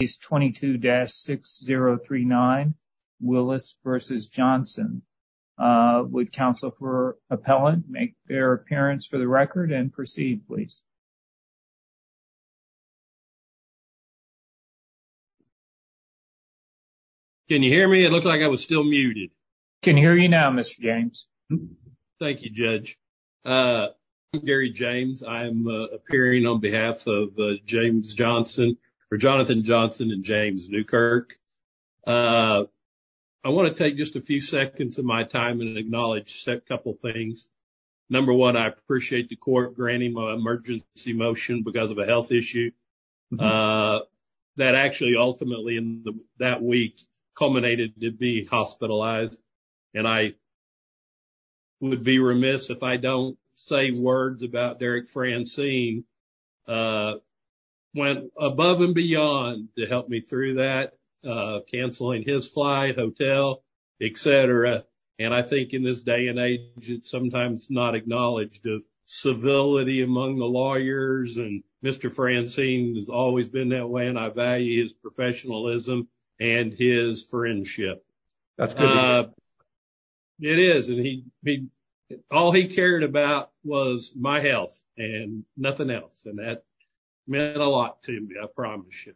Is 22-6039 Willis v. Johnson. Would counsel for appellant make their appearance for the record and proceed, please. Can you hear me? It looks like I was still muted. Can you hear me now, Mr. James? Thank you, Judge. I'm Gary James. I'm appearing on behalf of James Johnson for Jonathan Johnson and James Newkirk. I want to take just a few seconds of my time and acknowledge a couple things. Number one, I appreciate the court granting my emergency motion because of a health issue that actually ultimately in that week culminated to be hospitalized and I would be remiss if I don't say words about Derek Francine went above and beyond to help me through that, canceling his flight, hotel, etc. And I think in this day and age it's sometimes not acknowledged of civility among the lawyers and Mr. Francine has always been that way and I value his professionalism and his friendship. That's good. It is and all he cared about was my health and nothing else and that meant a lot to me, I promise you.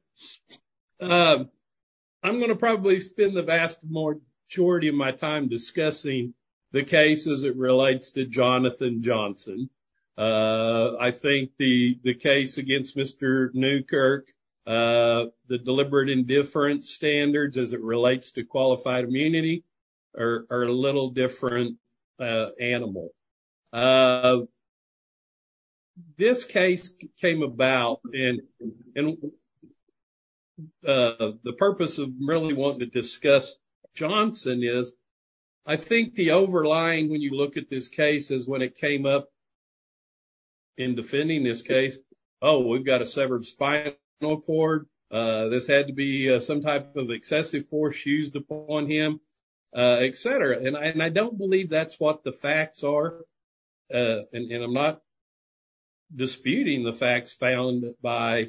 I'm gonna probably spend the vast majority of my time discussing the case as it relates to Jonathan Johnson. I think the case against Mr. Newkirk, the deliberate indifference standards as it relates to qualified immunity are a little different animal. This case came about and the purpose of really wanting to discuss Johnson is I think the overlying when you look at this case is when it came up in defending this case, oh we've got a severed spinal cord, this had to be some type of excessive force used upon him, etc. And I don't believe that's what the facts are and I'm not disputing the facts found by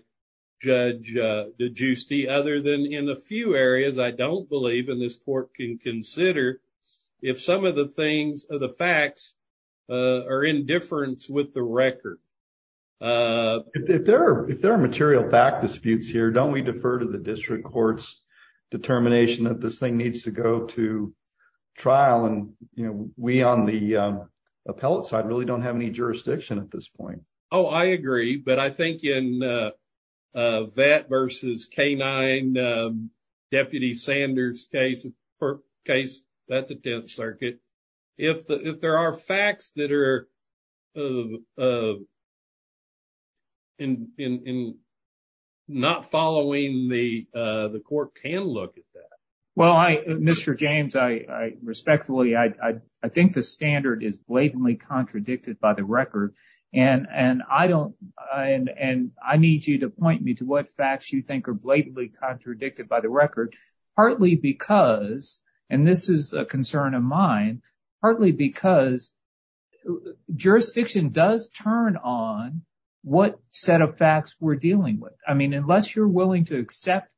Judge DeGiusti other than in a few areas I don't believe and this court can consider if some of the things of the facts are indifference with the record. If there are material fact disputes here don't we defer to the district courts determination that this thing needs to go to trial and you know we on the appellate side really don't have any jurisdiction at this point. Oh I agree but I think in VAT versus K-9 Deputy Sanders case that the 10th Circuit if there are facts that are in not following the the court can look at that. Well I Mr. James I respectfully I think the standard is blatantly contradicted by the record and I don't and I need you to point me to what facts you think are blatantly contradicted by the record partly because and this is a concern of mine partly because jurisdiction does turn on what set of facts we're dealing with. I mean unless you're willing to accept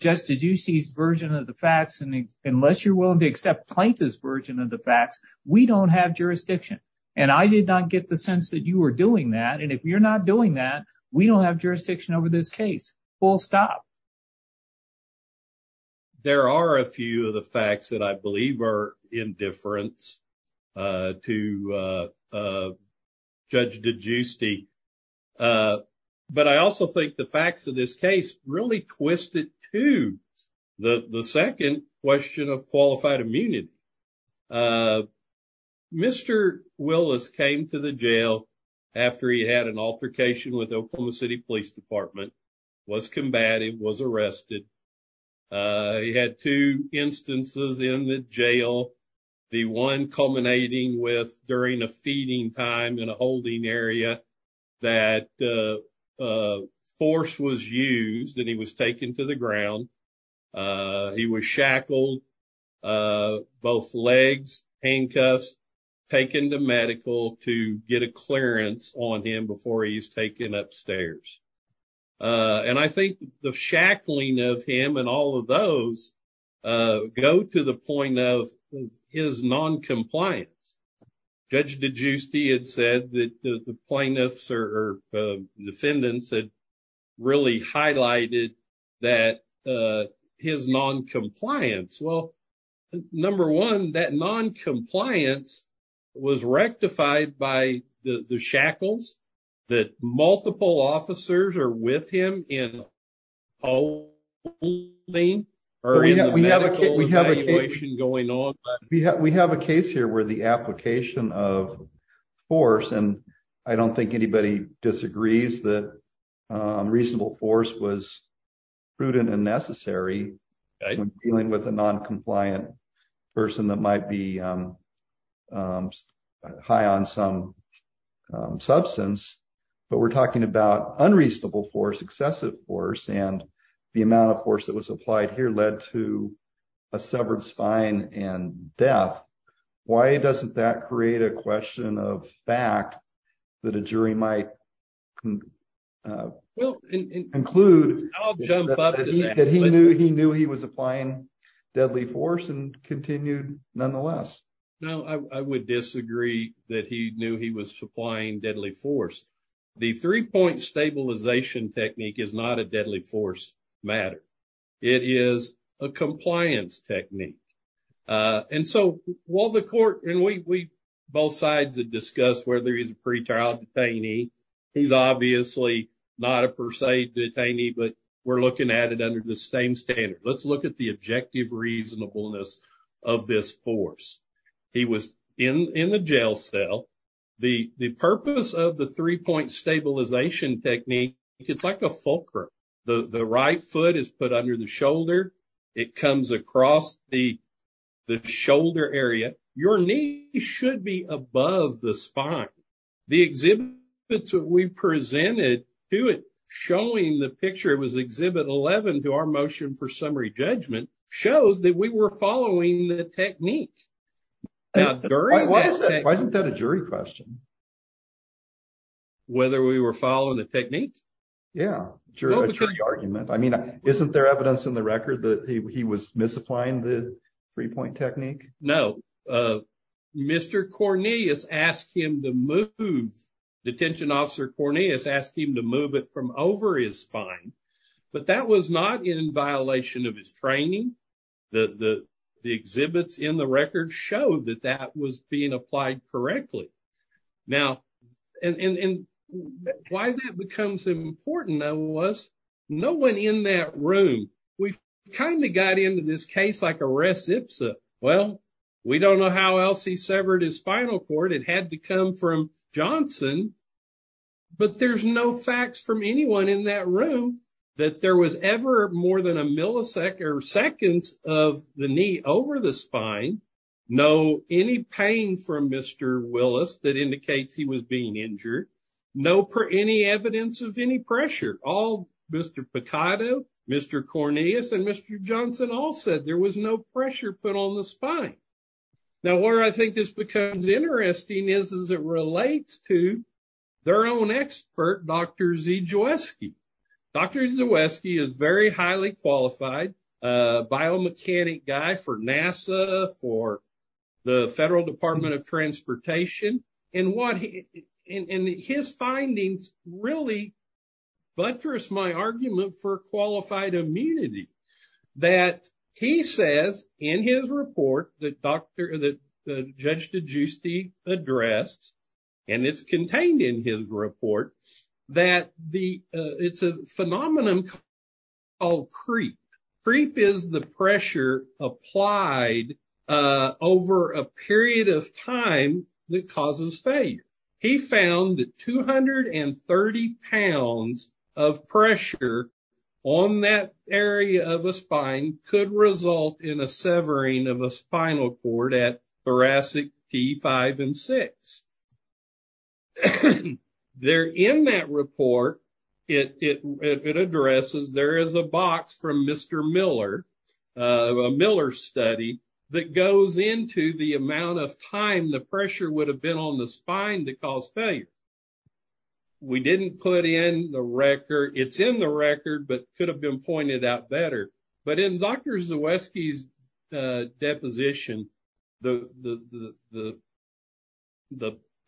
Judge DeGiusti's version of the facts and unless you're willing to accept Plaintiff's version of the facts we don't have jurisdiction and I did not get the sense that you were doing that and if you're not doing that we don't have jurisdiction over this case. Full stop. There are a few of the facts that I believe are indifference to Judge DeGiusti but I also think the facts of this case really twist it to the the second question of qualified immunity. Mr. Willis came to the jail after he had an altercation with Oklahoma City Police Department, was combated, was arrested. He had two instances in the jail. The one culminating with during a feeding time in a holding area that force was used and he was taken to the ground. He was shackled, both legs, handcuffs, taken to medical to get a clearance on him before he's taken upstairs and I think the shackling of him and all of those go to the point of his non-compliance. Judge DeGiusti had said that the plaintiffs or defendants had really highlighted that his non-compliance. Well, number one, that non-compliance was rectified by the shackles that multiple officers are with him in holding or in the medical evaluation going on. We have a case here where the application of force and I don't think anybody disagrees that reasonable force was prudent and necessary when dealing with a non-compliant person that might be high on some substance, but we're talking about unreasonable force, excessive force, and the amount of force that was applied here led to a severed spine and death. Why doesn't that create a question of fact that a jury might conclude that he knew he was applying deadly force and continued nonetheless? No, I would disagree that he knew he was supplying deadly force. The three-point stabilization technique is not a deadly force matter. It is a compliance technique and so while the court and we both sides have discussed whether he's a pretrial detainee, he's obviously not a per se detainee, but we're looking at it under the same standard. Let's look at the objective reasonableness of this force. He was in the jail cell. The purpose of the three-point stabilization technique, it's like a fulcrum. The right foot is put under the shoulder. It comes across the shoulder area. Your knee should be above the spine. The exhibits that we presented to it showing the picture, it our motion for summary judgment, shows that we were following the technique. Why isn't that a jury question? Whether we were following the technique? Yeah, a jury argument. I mean, isn't there evidence in the record that he was misapplying the three-point technique? No. Mr. Cornelius asked him to move, detention officer Cornelius asked him to move it from over his spine, but that was not in violation of his training. The exhibits in the record show that that was being applied correctly. Now, and why that becomes important was no one in that room. We've kind of got into this case like a res ipsa. Well, we don't know how else he severed his spinal cord. It had to come from Johnson, but there's no facts from anyone in that room that there was ever more than a millisecond or seconds of the knee over the spine. No any pain from Mr. Willis that indicates he was being injured. No any evidence of any pressure. All Mr. Picado, Mr. Cornelius, and Mr. Johnson all said there was no pressure put on the spine. Now, where I think this becomes interesting is as it relates to their own expert, Dr. Zijewski. Dr. Zijewski is very highly qualified biomechanic guy for NASA, for the Federal Department of Transportation, and what he, and his findings really buttress my argument for qualified immunity. That he says in his report that Dr., that Judge DeGiusti addressed, and it's contained in his report, that the, it's a phenomenon called creep. Creep is the pressure applied over a period of time that causes failure. He found that 230 pounds of pressure on that area of a spine could result in a severing of a spinal cord at thoracic T5 and T6. There in that report, it addresses, there is a box from Mr. Miller, a Miller study, that goes into the amount of time the pressure would have been on the spine to cause failure. We didn't put in the record, it's in the record, but could have been pointed out better. But in Dr. Zijewski's deposition, the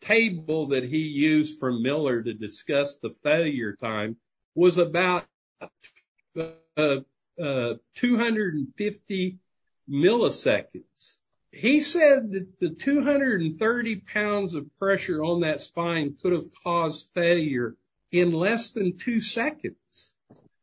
table that he used from Miller to discuss the failure time was about 250 milliseconds. He said that the 230 pounds of pressure on that spine could have caused failure in less than two seconds.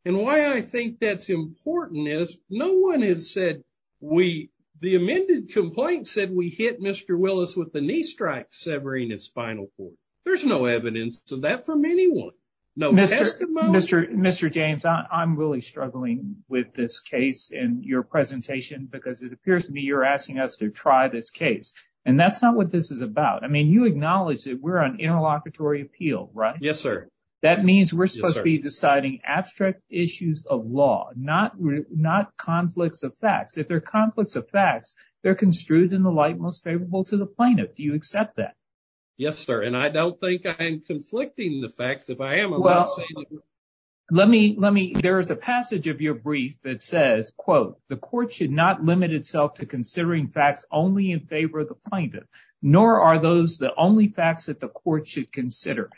And why I think that's important is, no one has said we, the amended complaint said we hit Mr. Willis with the knee strike severing his spinal cord. There's no evidence of that from anyone. Mr. James, I'm really struggling with this case in your presentation because it appears to me you're asking us to try this case. And that's not what this is about. I mean, you we're supposed to be deciding abstract issues of law, not conflicts of facts. If they're conflicts of facts, they're construed in the light most favorable to the plaintiff. Do you accept that? Yes, sir. And I don't think I'm conflicting the facts if I am. Well, let me, there is a passage of your brief that says, quote, the court should not limit itself to considering facts only in favor of the plaintiff, nor are those the only facts that the court should consider.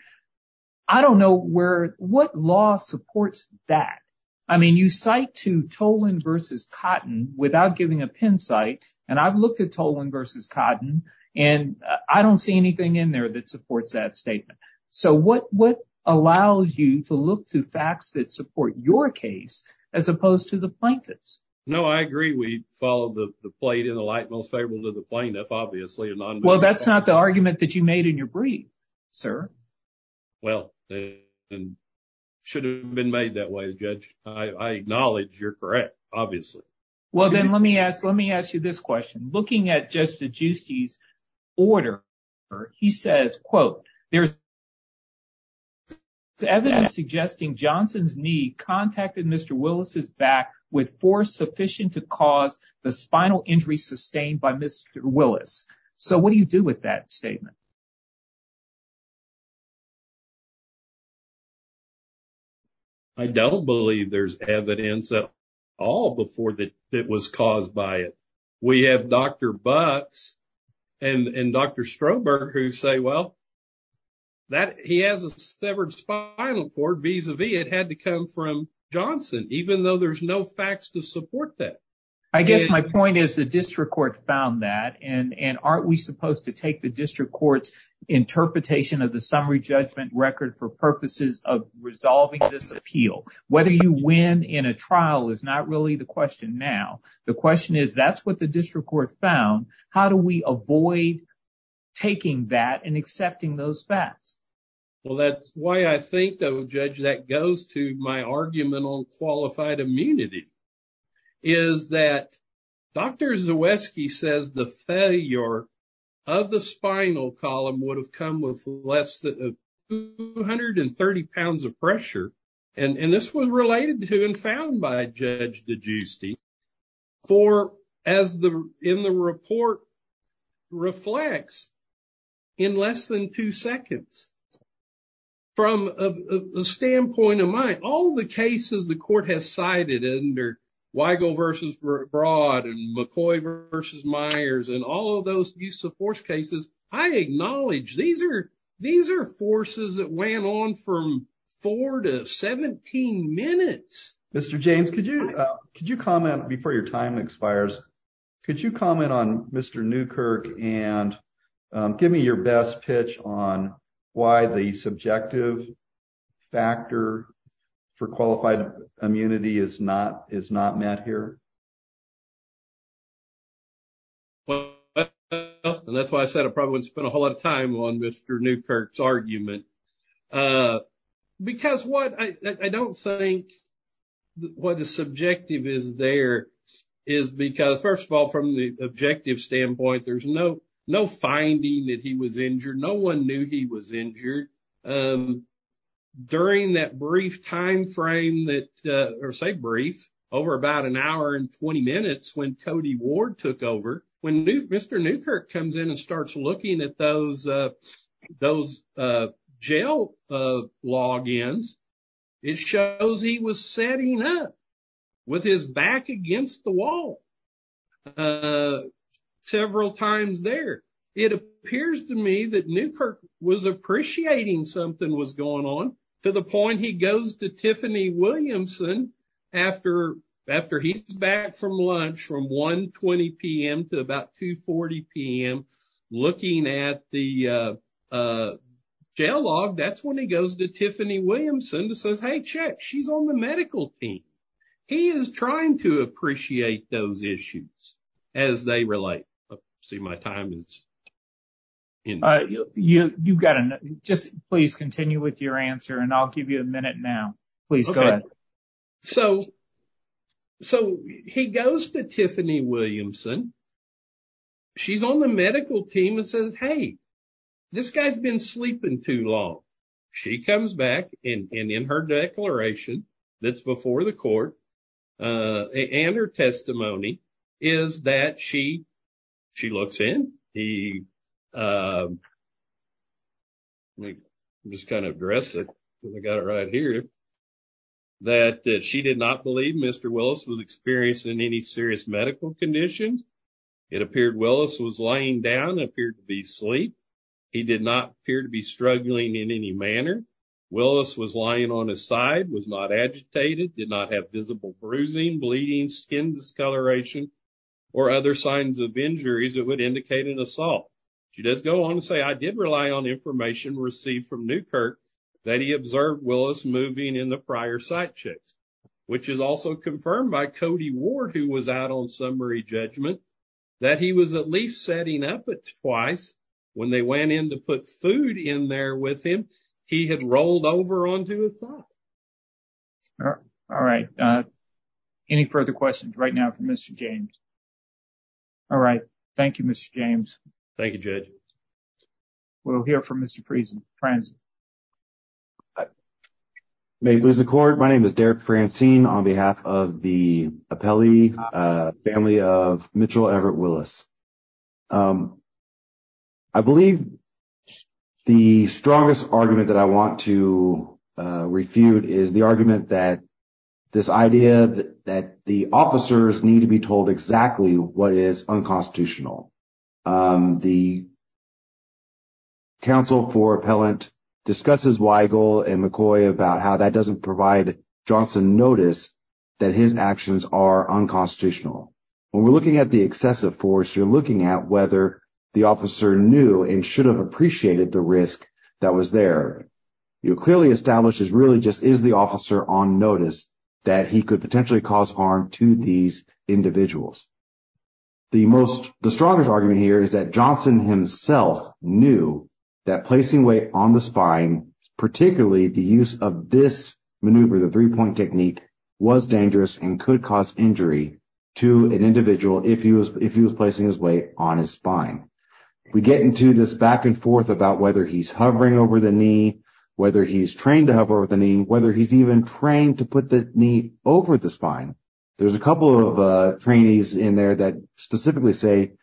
I don't know where, what law supports that? I mean, you cite to Tolan versus Cotton without giving a pen cite, and I've looked at Tolan versus Cotton, and I don't see anything in there that supports that statement. So what, what allows you to look to facts that support your case as opposed to the plaintiff's? No, I agree we follow the plate in the light most favorable to the plaintiff, obviously. Well, that's not the argument that you made in your brief, sir. Well, and should have been made that way, Judge. I acknowledge you're correct, obviously. Well, then let me ask, let me ask you this question. Looking at Judge DeGiusti's order, he says, quote, there's evidence suggesting Johnson's knee contacted Mr. Willis' back with force sufficient to cause the spinal injury sustained by Mr. Willis. So what do you do with that statement? I don't believe there's evidence at all before that it was caused by it. We have Dr. Bucks and Dr. Strohberg who say, well, that he has a severed spinal cord vis-a-vis. It had to come from Johnson, even though there's no facts to support that. I guess my point is the district court found that, and aren't we supposed to take the district court's interpretation of the summary judgment record for purposes of resolving this appeal? Whether you win in a trial is not really the question now. The question is, that's what the district court found. How do we avoid taking that and accepting those facts? Well, that's why I think, though, Judge, that goes to my argument on qualified immunity, is that Dr. Willis' spinal column would have come with less than 230 pounds of pressure, and this was related to and found by Judge DeGiusti for, as in the report reflects, in less than two seconds. From a standpoint of mine, all the cases the court has cited under Weigel v. Broad and McCoy v. Myers and all of those use-of-force cases, I acknowledge these are forces that went on from four to seventeen minutes. Mr. James, could you comment, before your time expires, could you comment on Mr. Newkirk and give me your best pitch on why the subjective factor for qualified immunity is not met here? Well, that's why I said I probably wouldn't spend a whole lot of time on Mr. Newkirk's argument. Because what I don't think, what the subjective is there is because, first of all, from the objective standpoint, there's no finding that he was injured. No one knew he was injured. During that brief time frame that, or say that brief over about an hour and 20 minutes when Cody Ward took over, when Mr. Newkirk comes in and starts looking at those jail logins, it shows he was setting up with his back against the wall several times there. It appears to me that Newkirk was appreciating something was going on to the point he goes to Tiffany Williamson after he's back from lunch from 1.20 p.m. to about 2.40 p.m. looking at the jail log, that's when he goes to Tiffany Williamson and says, hey, check, she's on the medical team. He is trying to appreciate those issues as they relate. See, my time is... You've got to, just please continue with your answer and I'll give you a minute now. Please go ahead. So, he goes to Tiffany Williamson. She's on the medical team and says, hey, this guy's been sleeping too long. She comes back and in her declaration that's before the address it, I got it right here, that she did not believe Mr. Willis was experiencing any serious medical conditions. It appeared Willis was laying down, appeared to be asleep. He did not appear to be struggling in any manner. Willis was lying on his side, was not agitated, did not have visible bruising, bleeding, skin discoloration, or other signs of injuries that would indicate an assault. She does go on to say, I did rely on information received from Newkirk that he observed Willis moving in the prior site checks, which is also confirmed by Cody Ward, who was out on summary judgment, that he was at least setting up it twice when they went in to put food in there with him. He had rolled over onto a thought. All right. Any further questions right now for Mr. James? All right. Thank you, Mr. James. Thank you, Judge. We'll hear from Mr. Franzen. May it please the court, my name is Derek Franzen on behalf of the Apelli family of Mitchell Everett Willis. I believe the strongest argument that I want to refute is the argument that this idea that the officers need to be told exactly what is unconstitutional. The counsel for appellant discusses Weigel and McCoy about how that doesn't provide Johnson notice that his actions are unconstitutional. When we're looking at the excessive force, you're looking at whether the officer knew and should have appreciated the risk that was there. You clearly establish is really just is the officer on notice that he could potentially cause harm to these individuals. The strongest argument here is that Johnson himself knew that placing weight on the spine, particularly the use of this maneuver, the three-point technique, was dangerous and could cause injury to an individual if he was placing his weight on his spine. We get into this back and forth about whether he's hovering over the knee, whether he's trained to hover over the knee, whether he's even trained to put the knee over the spine. There's a couple of trainees in there that specifically say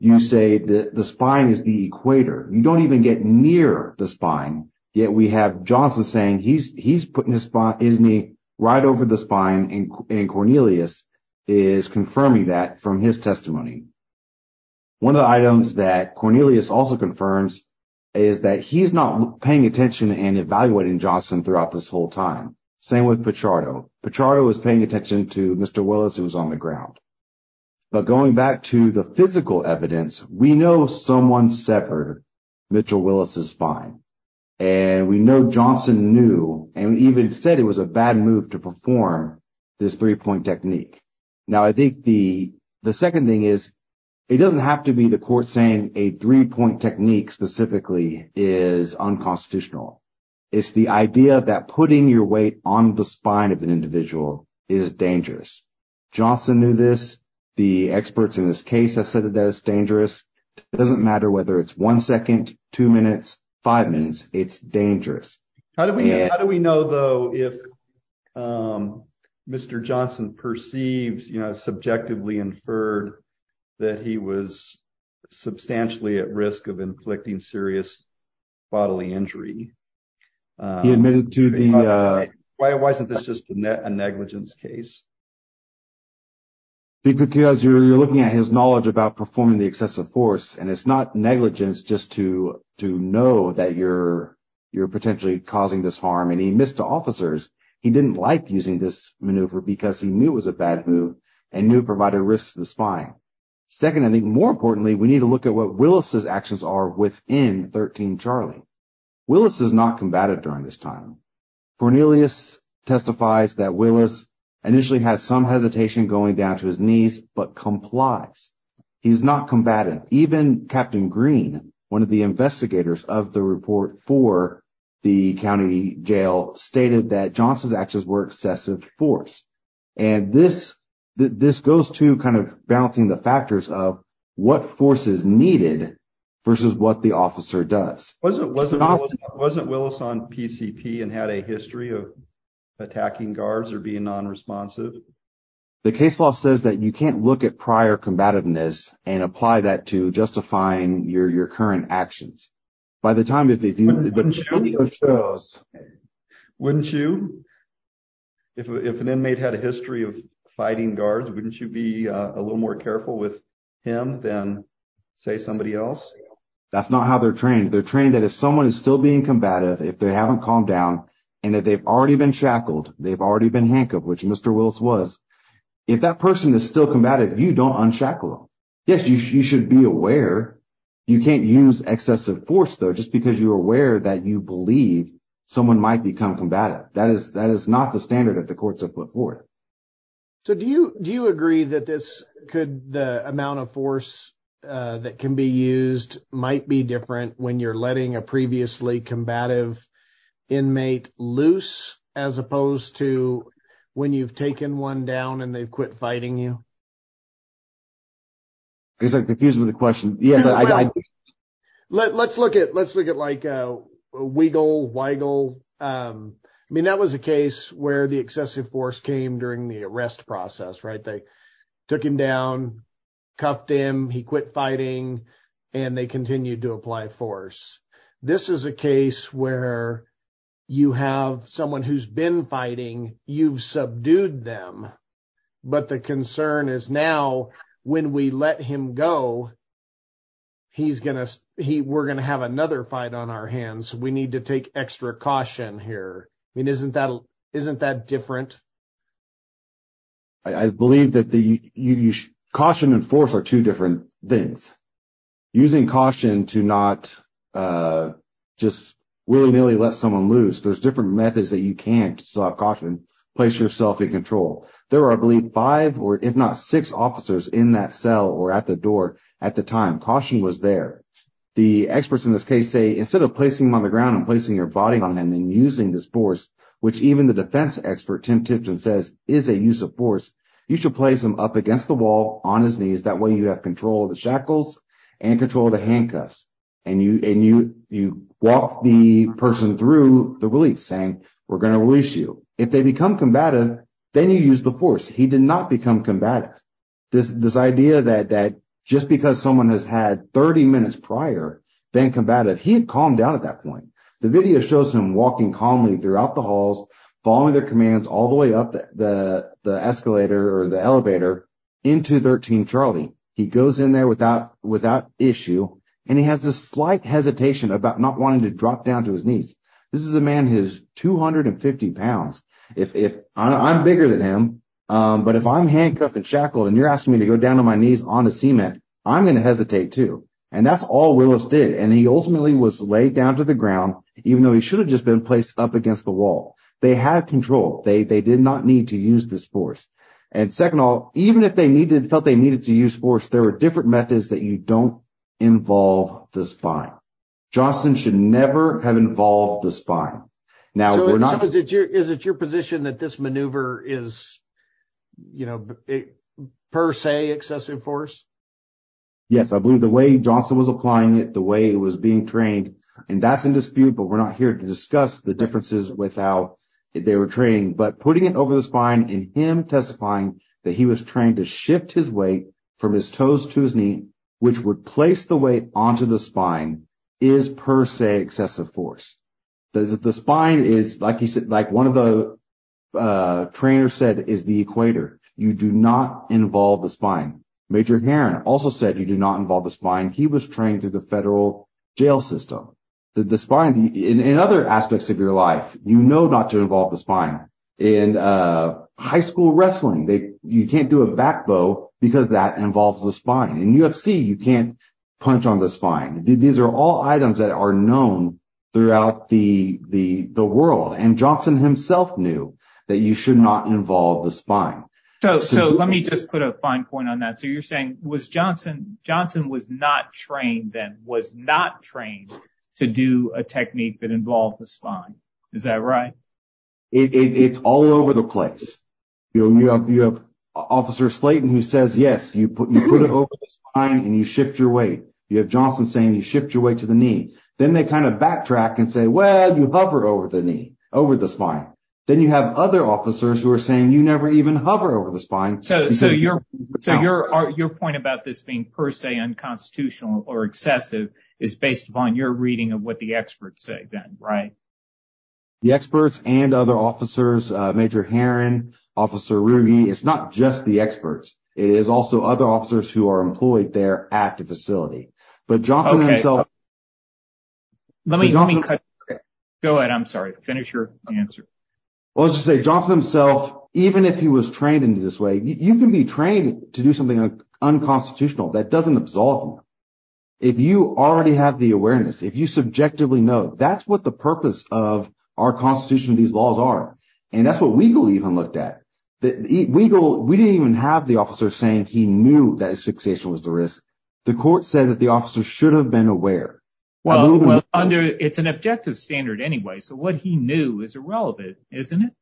you say the spine is the equator. You don't even get near the spine, yet we have Johnson saying he's putting his knee right over the spine and Cornelius is confirming that from his testimony. One of the items that Cornelius also confirms is that he's not paying attention and evaluating Johnson throughout this whole time. Same with Pichardo. Pichardo was paying attention to Mr. Willis who was on the ground. But going back to the physical evidence, we know someone severed Mitchell Willis's spine and we know Johnson knew and even said it was a bad move to perform this three-point technique. Now I think the the second thing is it doesn't have to be the court saying a three-point technique specifically is unconstitutional. It's the idea that putting your weight on the spine of an individual is dangerous. Johnson knew this. The experts in this case have said that it's dangerous. It doesn't matter whether it's one second, two minutes, five minutes. It's dangerous. How do we know though if Mr. Johnson perceives, you know, subjectively inferred that he was inflicting serious bodily injury? He admitted to the... Why wasn't this just a negligence case? Because you're looking at his knowledge about performing the excessive force and it's not negligence just to to know that you're potentially causing this harm and he missed officers. He didn't like using this maneuver because he knew it was a bad move and knew it provided risks to the spine. Second, I think more importantly, we need to look at what Willis's actions are within 13 Charlie. Willis is not combative during this time. Cornelius testifies that Willis initially had some hesitation going down to his knees but complies. He's not combative. Even Captain Green, one of the investigators of the report for the county jail, stated that Johnson's actions were excessive force and this this goes to kind of balancing the factors of what force is needed for what the officer does. Wasn't Willis on PCP and had a history of attacking guards or being non-responsive? The case law says that you can't look at prior combativeness and apply that to justifying your your current actions. By the time... Wouldn't you? If an inmate had a history of fighting guards, wouldn't you be a little more careful with him than, say, somebody else? That's not how they're trained. They're trained that if someone is still being combative, if they haven't calmed down, and that they've already been shackled, they've already been handcuffed, which Mr. Willis was, if that person is still combative, you don't unshackle them. Yes, you should be aware. You can't use excessive force though just because you're aware that you believe someone might become combative. That is not the standard that the courts have put forth. So do you agree that this could, the amount of force that can be used, might be different when you're letting a previously combative inmate loose as opposed to when you've taken one down and they've quit fighting you? I'm confused with the question. Yes, I... Let's look at, let's look at, like, Weigel, Weigel. I mean, that was a case where the excessive force came during the arrest process, right? They took him down, cuffed him, he quit fighting, and they continued to apply force. This is a case where you have someone who's been fighting, you've subdued them, but the concern is now when we let him go, he's going to, we're going to have another fight on our hands. We need to take extra caution here. I mean, isn't that, isn't that different? I believe that the, you, caution and force are two different things. Using caution to not just willy-nilly let someone loose, there's different methods that you can't stop caution, place yourself in control. There are, I believe, five or if not six officers in that cell or at the door at the time. Caution was there. The experts in this case say instead of placing them on the ground and placing your body on them and using this force, which even the defense expert Tim Tipton says is a use of force, you should place him up against the wall on his knees. That way you have control of the shackles and control of the handcuffs. And you, and you, you walk the person through the release saying, we're going to release you. If they become combative, then you use the force. He did not become combative. This, this idea that, that just because someone has had 30 minutes prior been combative, he had calmed down at that point. The video shows him walking calmly throughout the halls, following their commands all the way up the, the escalator or the elevator into 13 Charlie. He goes in there without, without issue and he has this slight hesitation about not wanting to drop down to his knees. This is a man who's 250 pounds. If, if I'm bigger than him, but if I'm handcuffed and shackled and you're asking me to go down on my knees onto cement, I'm gonna hesitate too. And that's all Willis did. And he ultimately was laid down to the ground, even though he should have just been placed up against the wall. They had control. They, they did not need to use this force. And second off, even if they needed, felt they needed to use force, there were different methods that you don't involve the spine. Johnson should never have involved the spine. Now, we're not, is it your position that this maneuver is, you know, per se excessive force? Yes, I believe the way Johnson was applying it, the way it was being trained and that's in dispute, but we're not here to discuss the differences without they were training, but putting it over the spine and him testifying that he was trained to shift his weight from his toes to his knee, which would place the weight onto the spine is per se excessive force. The spine is like he said, like one of the, uh, trainer said is the equator. You do not involve the spine. Major Heron also said you do not involve the spine. He was trained through the federal jail system. The spine in other aspects of your life, you know, not to involve the spine and, uh, high school wrestling. They, you can't do a back bow because that involves the spine and UFC. You can't punch on the spine. These are all items that are known throughout the, the, the world. And Johnson himself knew that you should not involve the spine. So, so let me just put a fine point on that. So you're saying was Johnson, Johnson was not trained, then was not trained to do a technique that involved the spine. Is that right? It's all over the place. You know, you have, you have officer Slayton who says, yes, you put, you put it over the spine and you shift your weight. You have Johnson saying you shift your weight to the knee. Then they kind of backtrack and say, well, you hover over the knee over the spine. Then you have other officers who are saying you never even hover over the spine. So, so your, so your, your point about this being per se unconstitutional or excessive is based upon your reading of what the experts say then, right? The experts and other officers, uh, major Heron officer Ruby, it's not just the experts. It is also other officers who are employed there at the facility, but Johnson himself, let me, let me cut. Go ahead. I'm sorry, finish your answer. Well, let's just say Johnson himself, even if he was trained into this way, you can be trained to do something unconstitutional that doesn't absolve me. If you already have the awareness, if you subjectively know, that's what the purpose of our constitution of these laws are. And that's what we believe and looked at that. We go, we didn't even have the officer saying he knew that his fixation was the risk. The court said that the officer should have been aware. Well, under, it's an objective standard anyway. So what he knew is irrelevant, isn't it?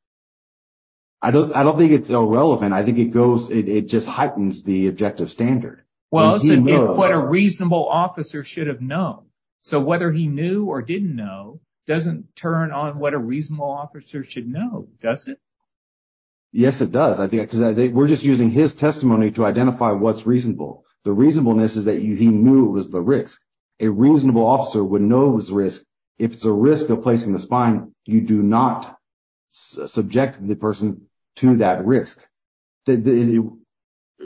I don't, I don't think it's irrelevant. I think it goes, it just heightens the objective standard. Well, it's what a reasonable officer should have known. So whether he knew or didn't know, doesn't turn on what a reasonable officer should know. Does it? Yes, it does. I think because we're just using his testimony to identify what's reasonable. The reasonableness is that he knew it was the risk. A reasonable officer would know it was risk. If it's a risk of placing the spine, you do not subject the person to that risk. The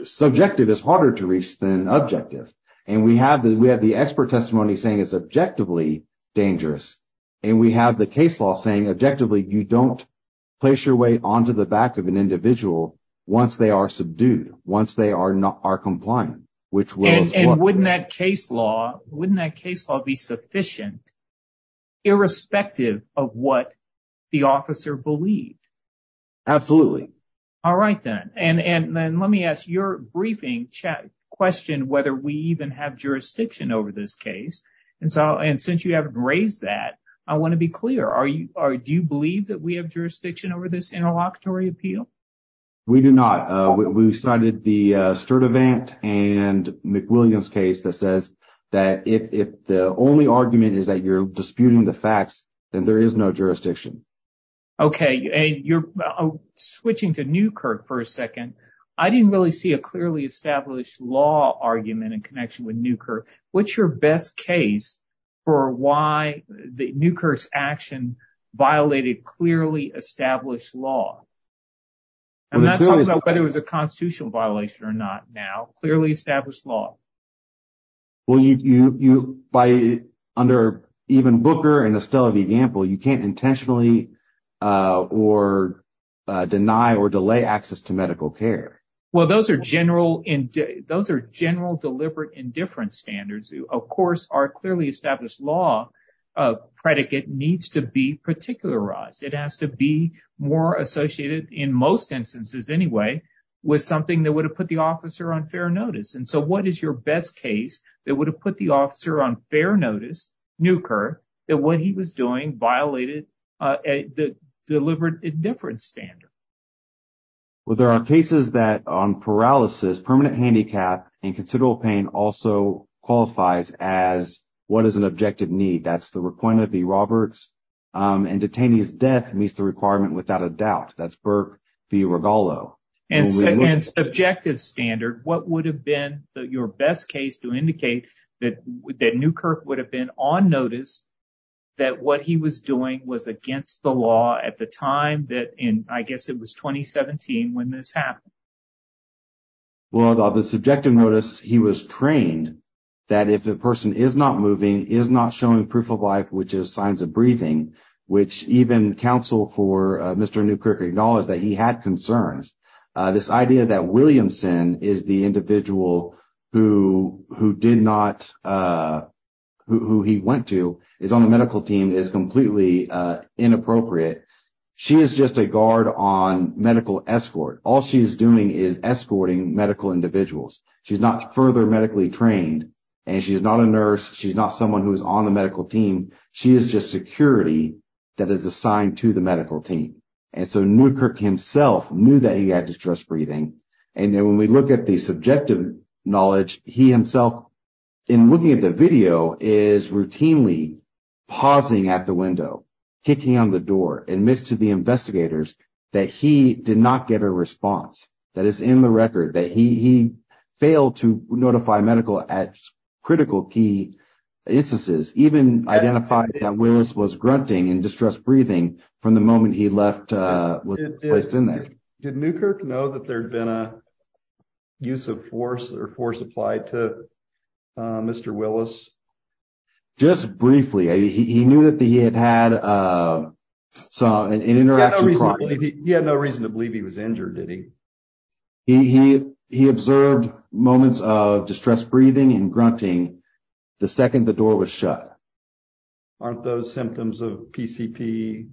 subjective is harder to reach than objective. And we have the, we have the expert testimony saying it's objectively dangerous. And we have the case law saying objectively, you don't place your weight onto the back of an individual once they are subdued, once they are not, are compliant, which was. And wouldn't that case law, wouldn't that case law be sufficient, irrespective of what the officer believed? Absolutely. All right then. And, and then let me ask your briefing check question, whether we even have jurisdiction over this case. And so, and since you haven't raised that, I want to be clear. Are you, are, do you believe that we have jurisdiction over this interlocutory appeal? We do not. We cited the Sturdivant and McWilliams case that says that if, if the only argument is that you're disputing the facts, then there is no jurisdiction. Okay. And you're switching to Newkirk for a second. I didn't really see a clearly established law argument in connection with Newkirk. What's your best case for why the Newkirk's action violated clearly established law? And whether it was a constitutional violation or not now, clearly established law. Well, you, you, you, by, under even Booker and Estella V. Gamble, you can't intentionally or deny or delay access to medical care. Well, those are general, those are general deliberate indifference standards. Of course, our clearly established law predicate needs to be particularized. It has to be more than one thing. And so, what is your best case that would have put the officer on fair notice, Newkirk, that what he was doing violated the deliberate indifference standard? Well, there are cases that on paralysis, permanent handicap and considerable pain also qualifies as what is an objective need. That's the requirement of B. Roberts. And detainee's death meets the requirement without a doubt. That's Burke v. Rigolo. And subjective standard, what would have been your best case to indicate that Newkirk would have been on notice that what he was doing was against the law at the time that in, I guess it was 2017 when this happened? Well, the subjective notice he was trained that if the person is not moving, is not showing proof of life, which is signs of breathing, which even counsel for Mr. Newkirk acknowledged that he had concerns. This idea that Williamson is the individual who did not, who he went to, is on the medical team is completely inappropriate. She is just a guard on medical escort. All she's doing is escorting medical individuals. She's not further medically trained. And she's not a nurse. She's not someone who is on the medical team. She is just security that is assigned to the medical team. And so Newkirk himself knew that he had distressed breathing. And when we look at the subjective knowledge, he himself, in looking at the video, is routinely pausing at the window, kicking on the door, admits to the investigators that he did not get a response. That is in the key instances. Even identified that Willis was grunting and distressed breathing from the moment he left, was placed in there. Did Newkirk know that there'd been a use of force or force applied to Mr. Willis? Just briefly. He knew that he had had an interaction. He had no reason to believe he was injured, did he? He observed moments of distressed breathing and grunting the second the door was shut. Aren't those symptoms of PCP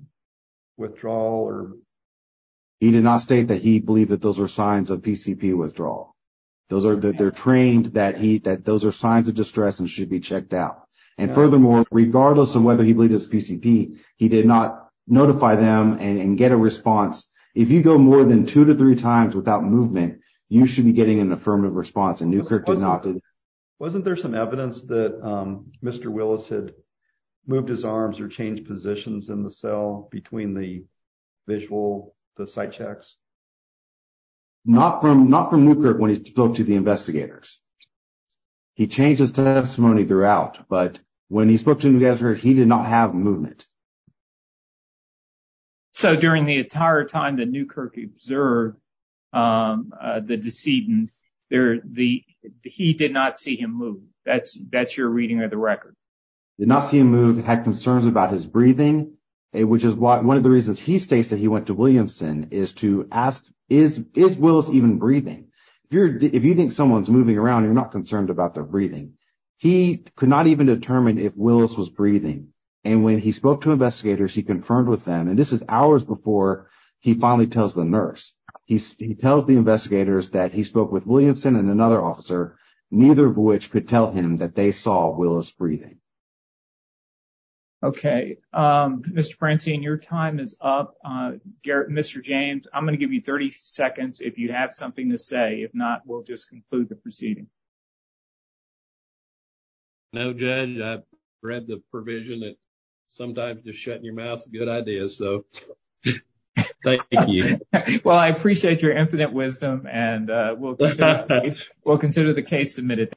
withdrawal? He did not state that he believed that those were signs of PCP withdrawal. Those are that they're trained that he that those are signs of distress and should be checked out. And furthermore, regardless of whether he believed his PCP, he did not notify them and get a response. If you go more than two to three times without movement, you should be getting an affirmative response. And Newkirk did not. Wasn't there some evidence that Mr. Willis had moved his arms or changed positions in the cell between the visual, the sight checks? Not from Newkirk when he spoke to the investigators. He changed his testimony throughout, but when he spoke to Newkirk, he did not have movement. So during the entire time that Newkirk observed the decedent, he did not see him move. That's that's your reading of the record. Did not see him move, had concerns about his breathing, which is one of the reasons he states that he went to Williamson is to ask, is Willis even breathing? If you think someone's moving around, you're not concerned about their breathing. He could not even determine if Willis was breathing. And when he spoke to investigators, he confirmed with them. And this is hours before he finally tells the nurse. He tells the investigators that he spoke with Williamson and another officer, neither of which could tell him that they saw Willis breathing. Okay, Mr Francine, your time is up. Mr James, I'm gonna give you 30 seconds if you have something to say. If not, we'll just conclude the proceeding. No, Judge, I read the provision that sometimes just shut your mouth. Good idea. So thank you. Well, I appreciate your infinite wisdom, and we'll we'll consider the case submitted.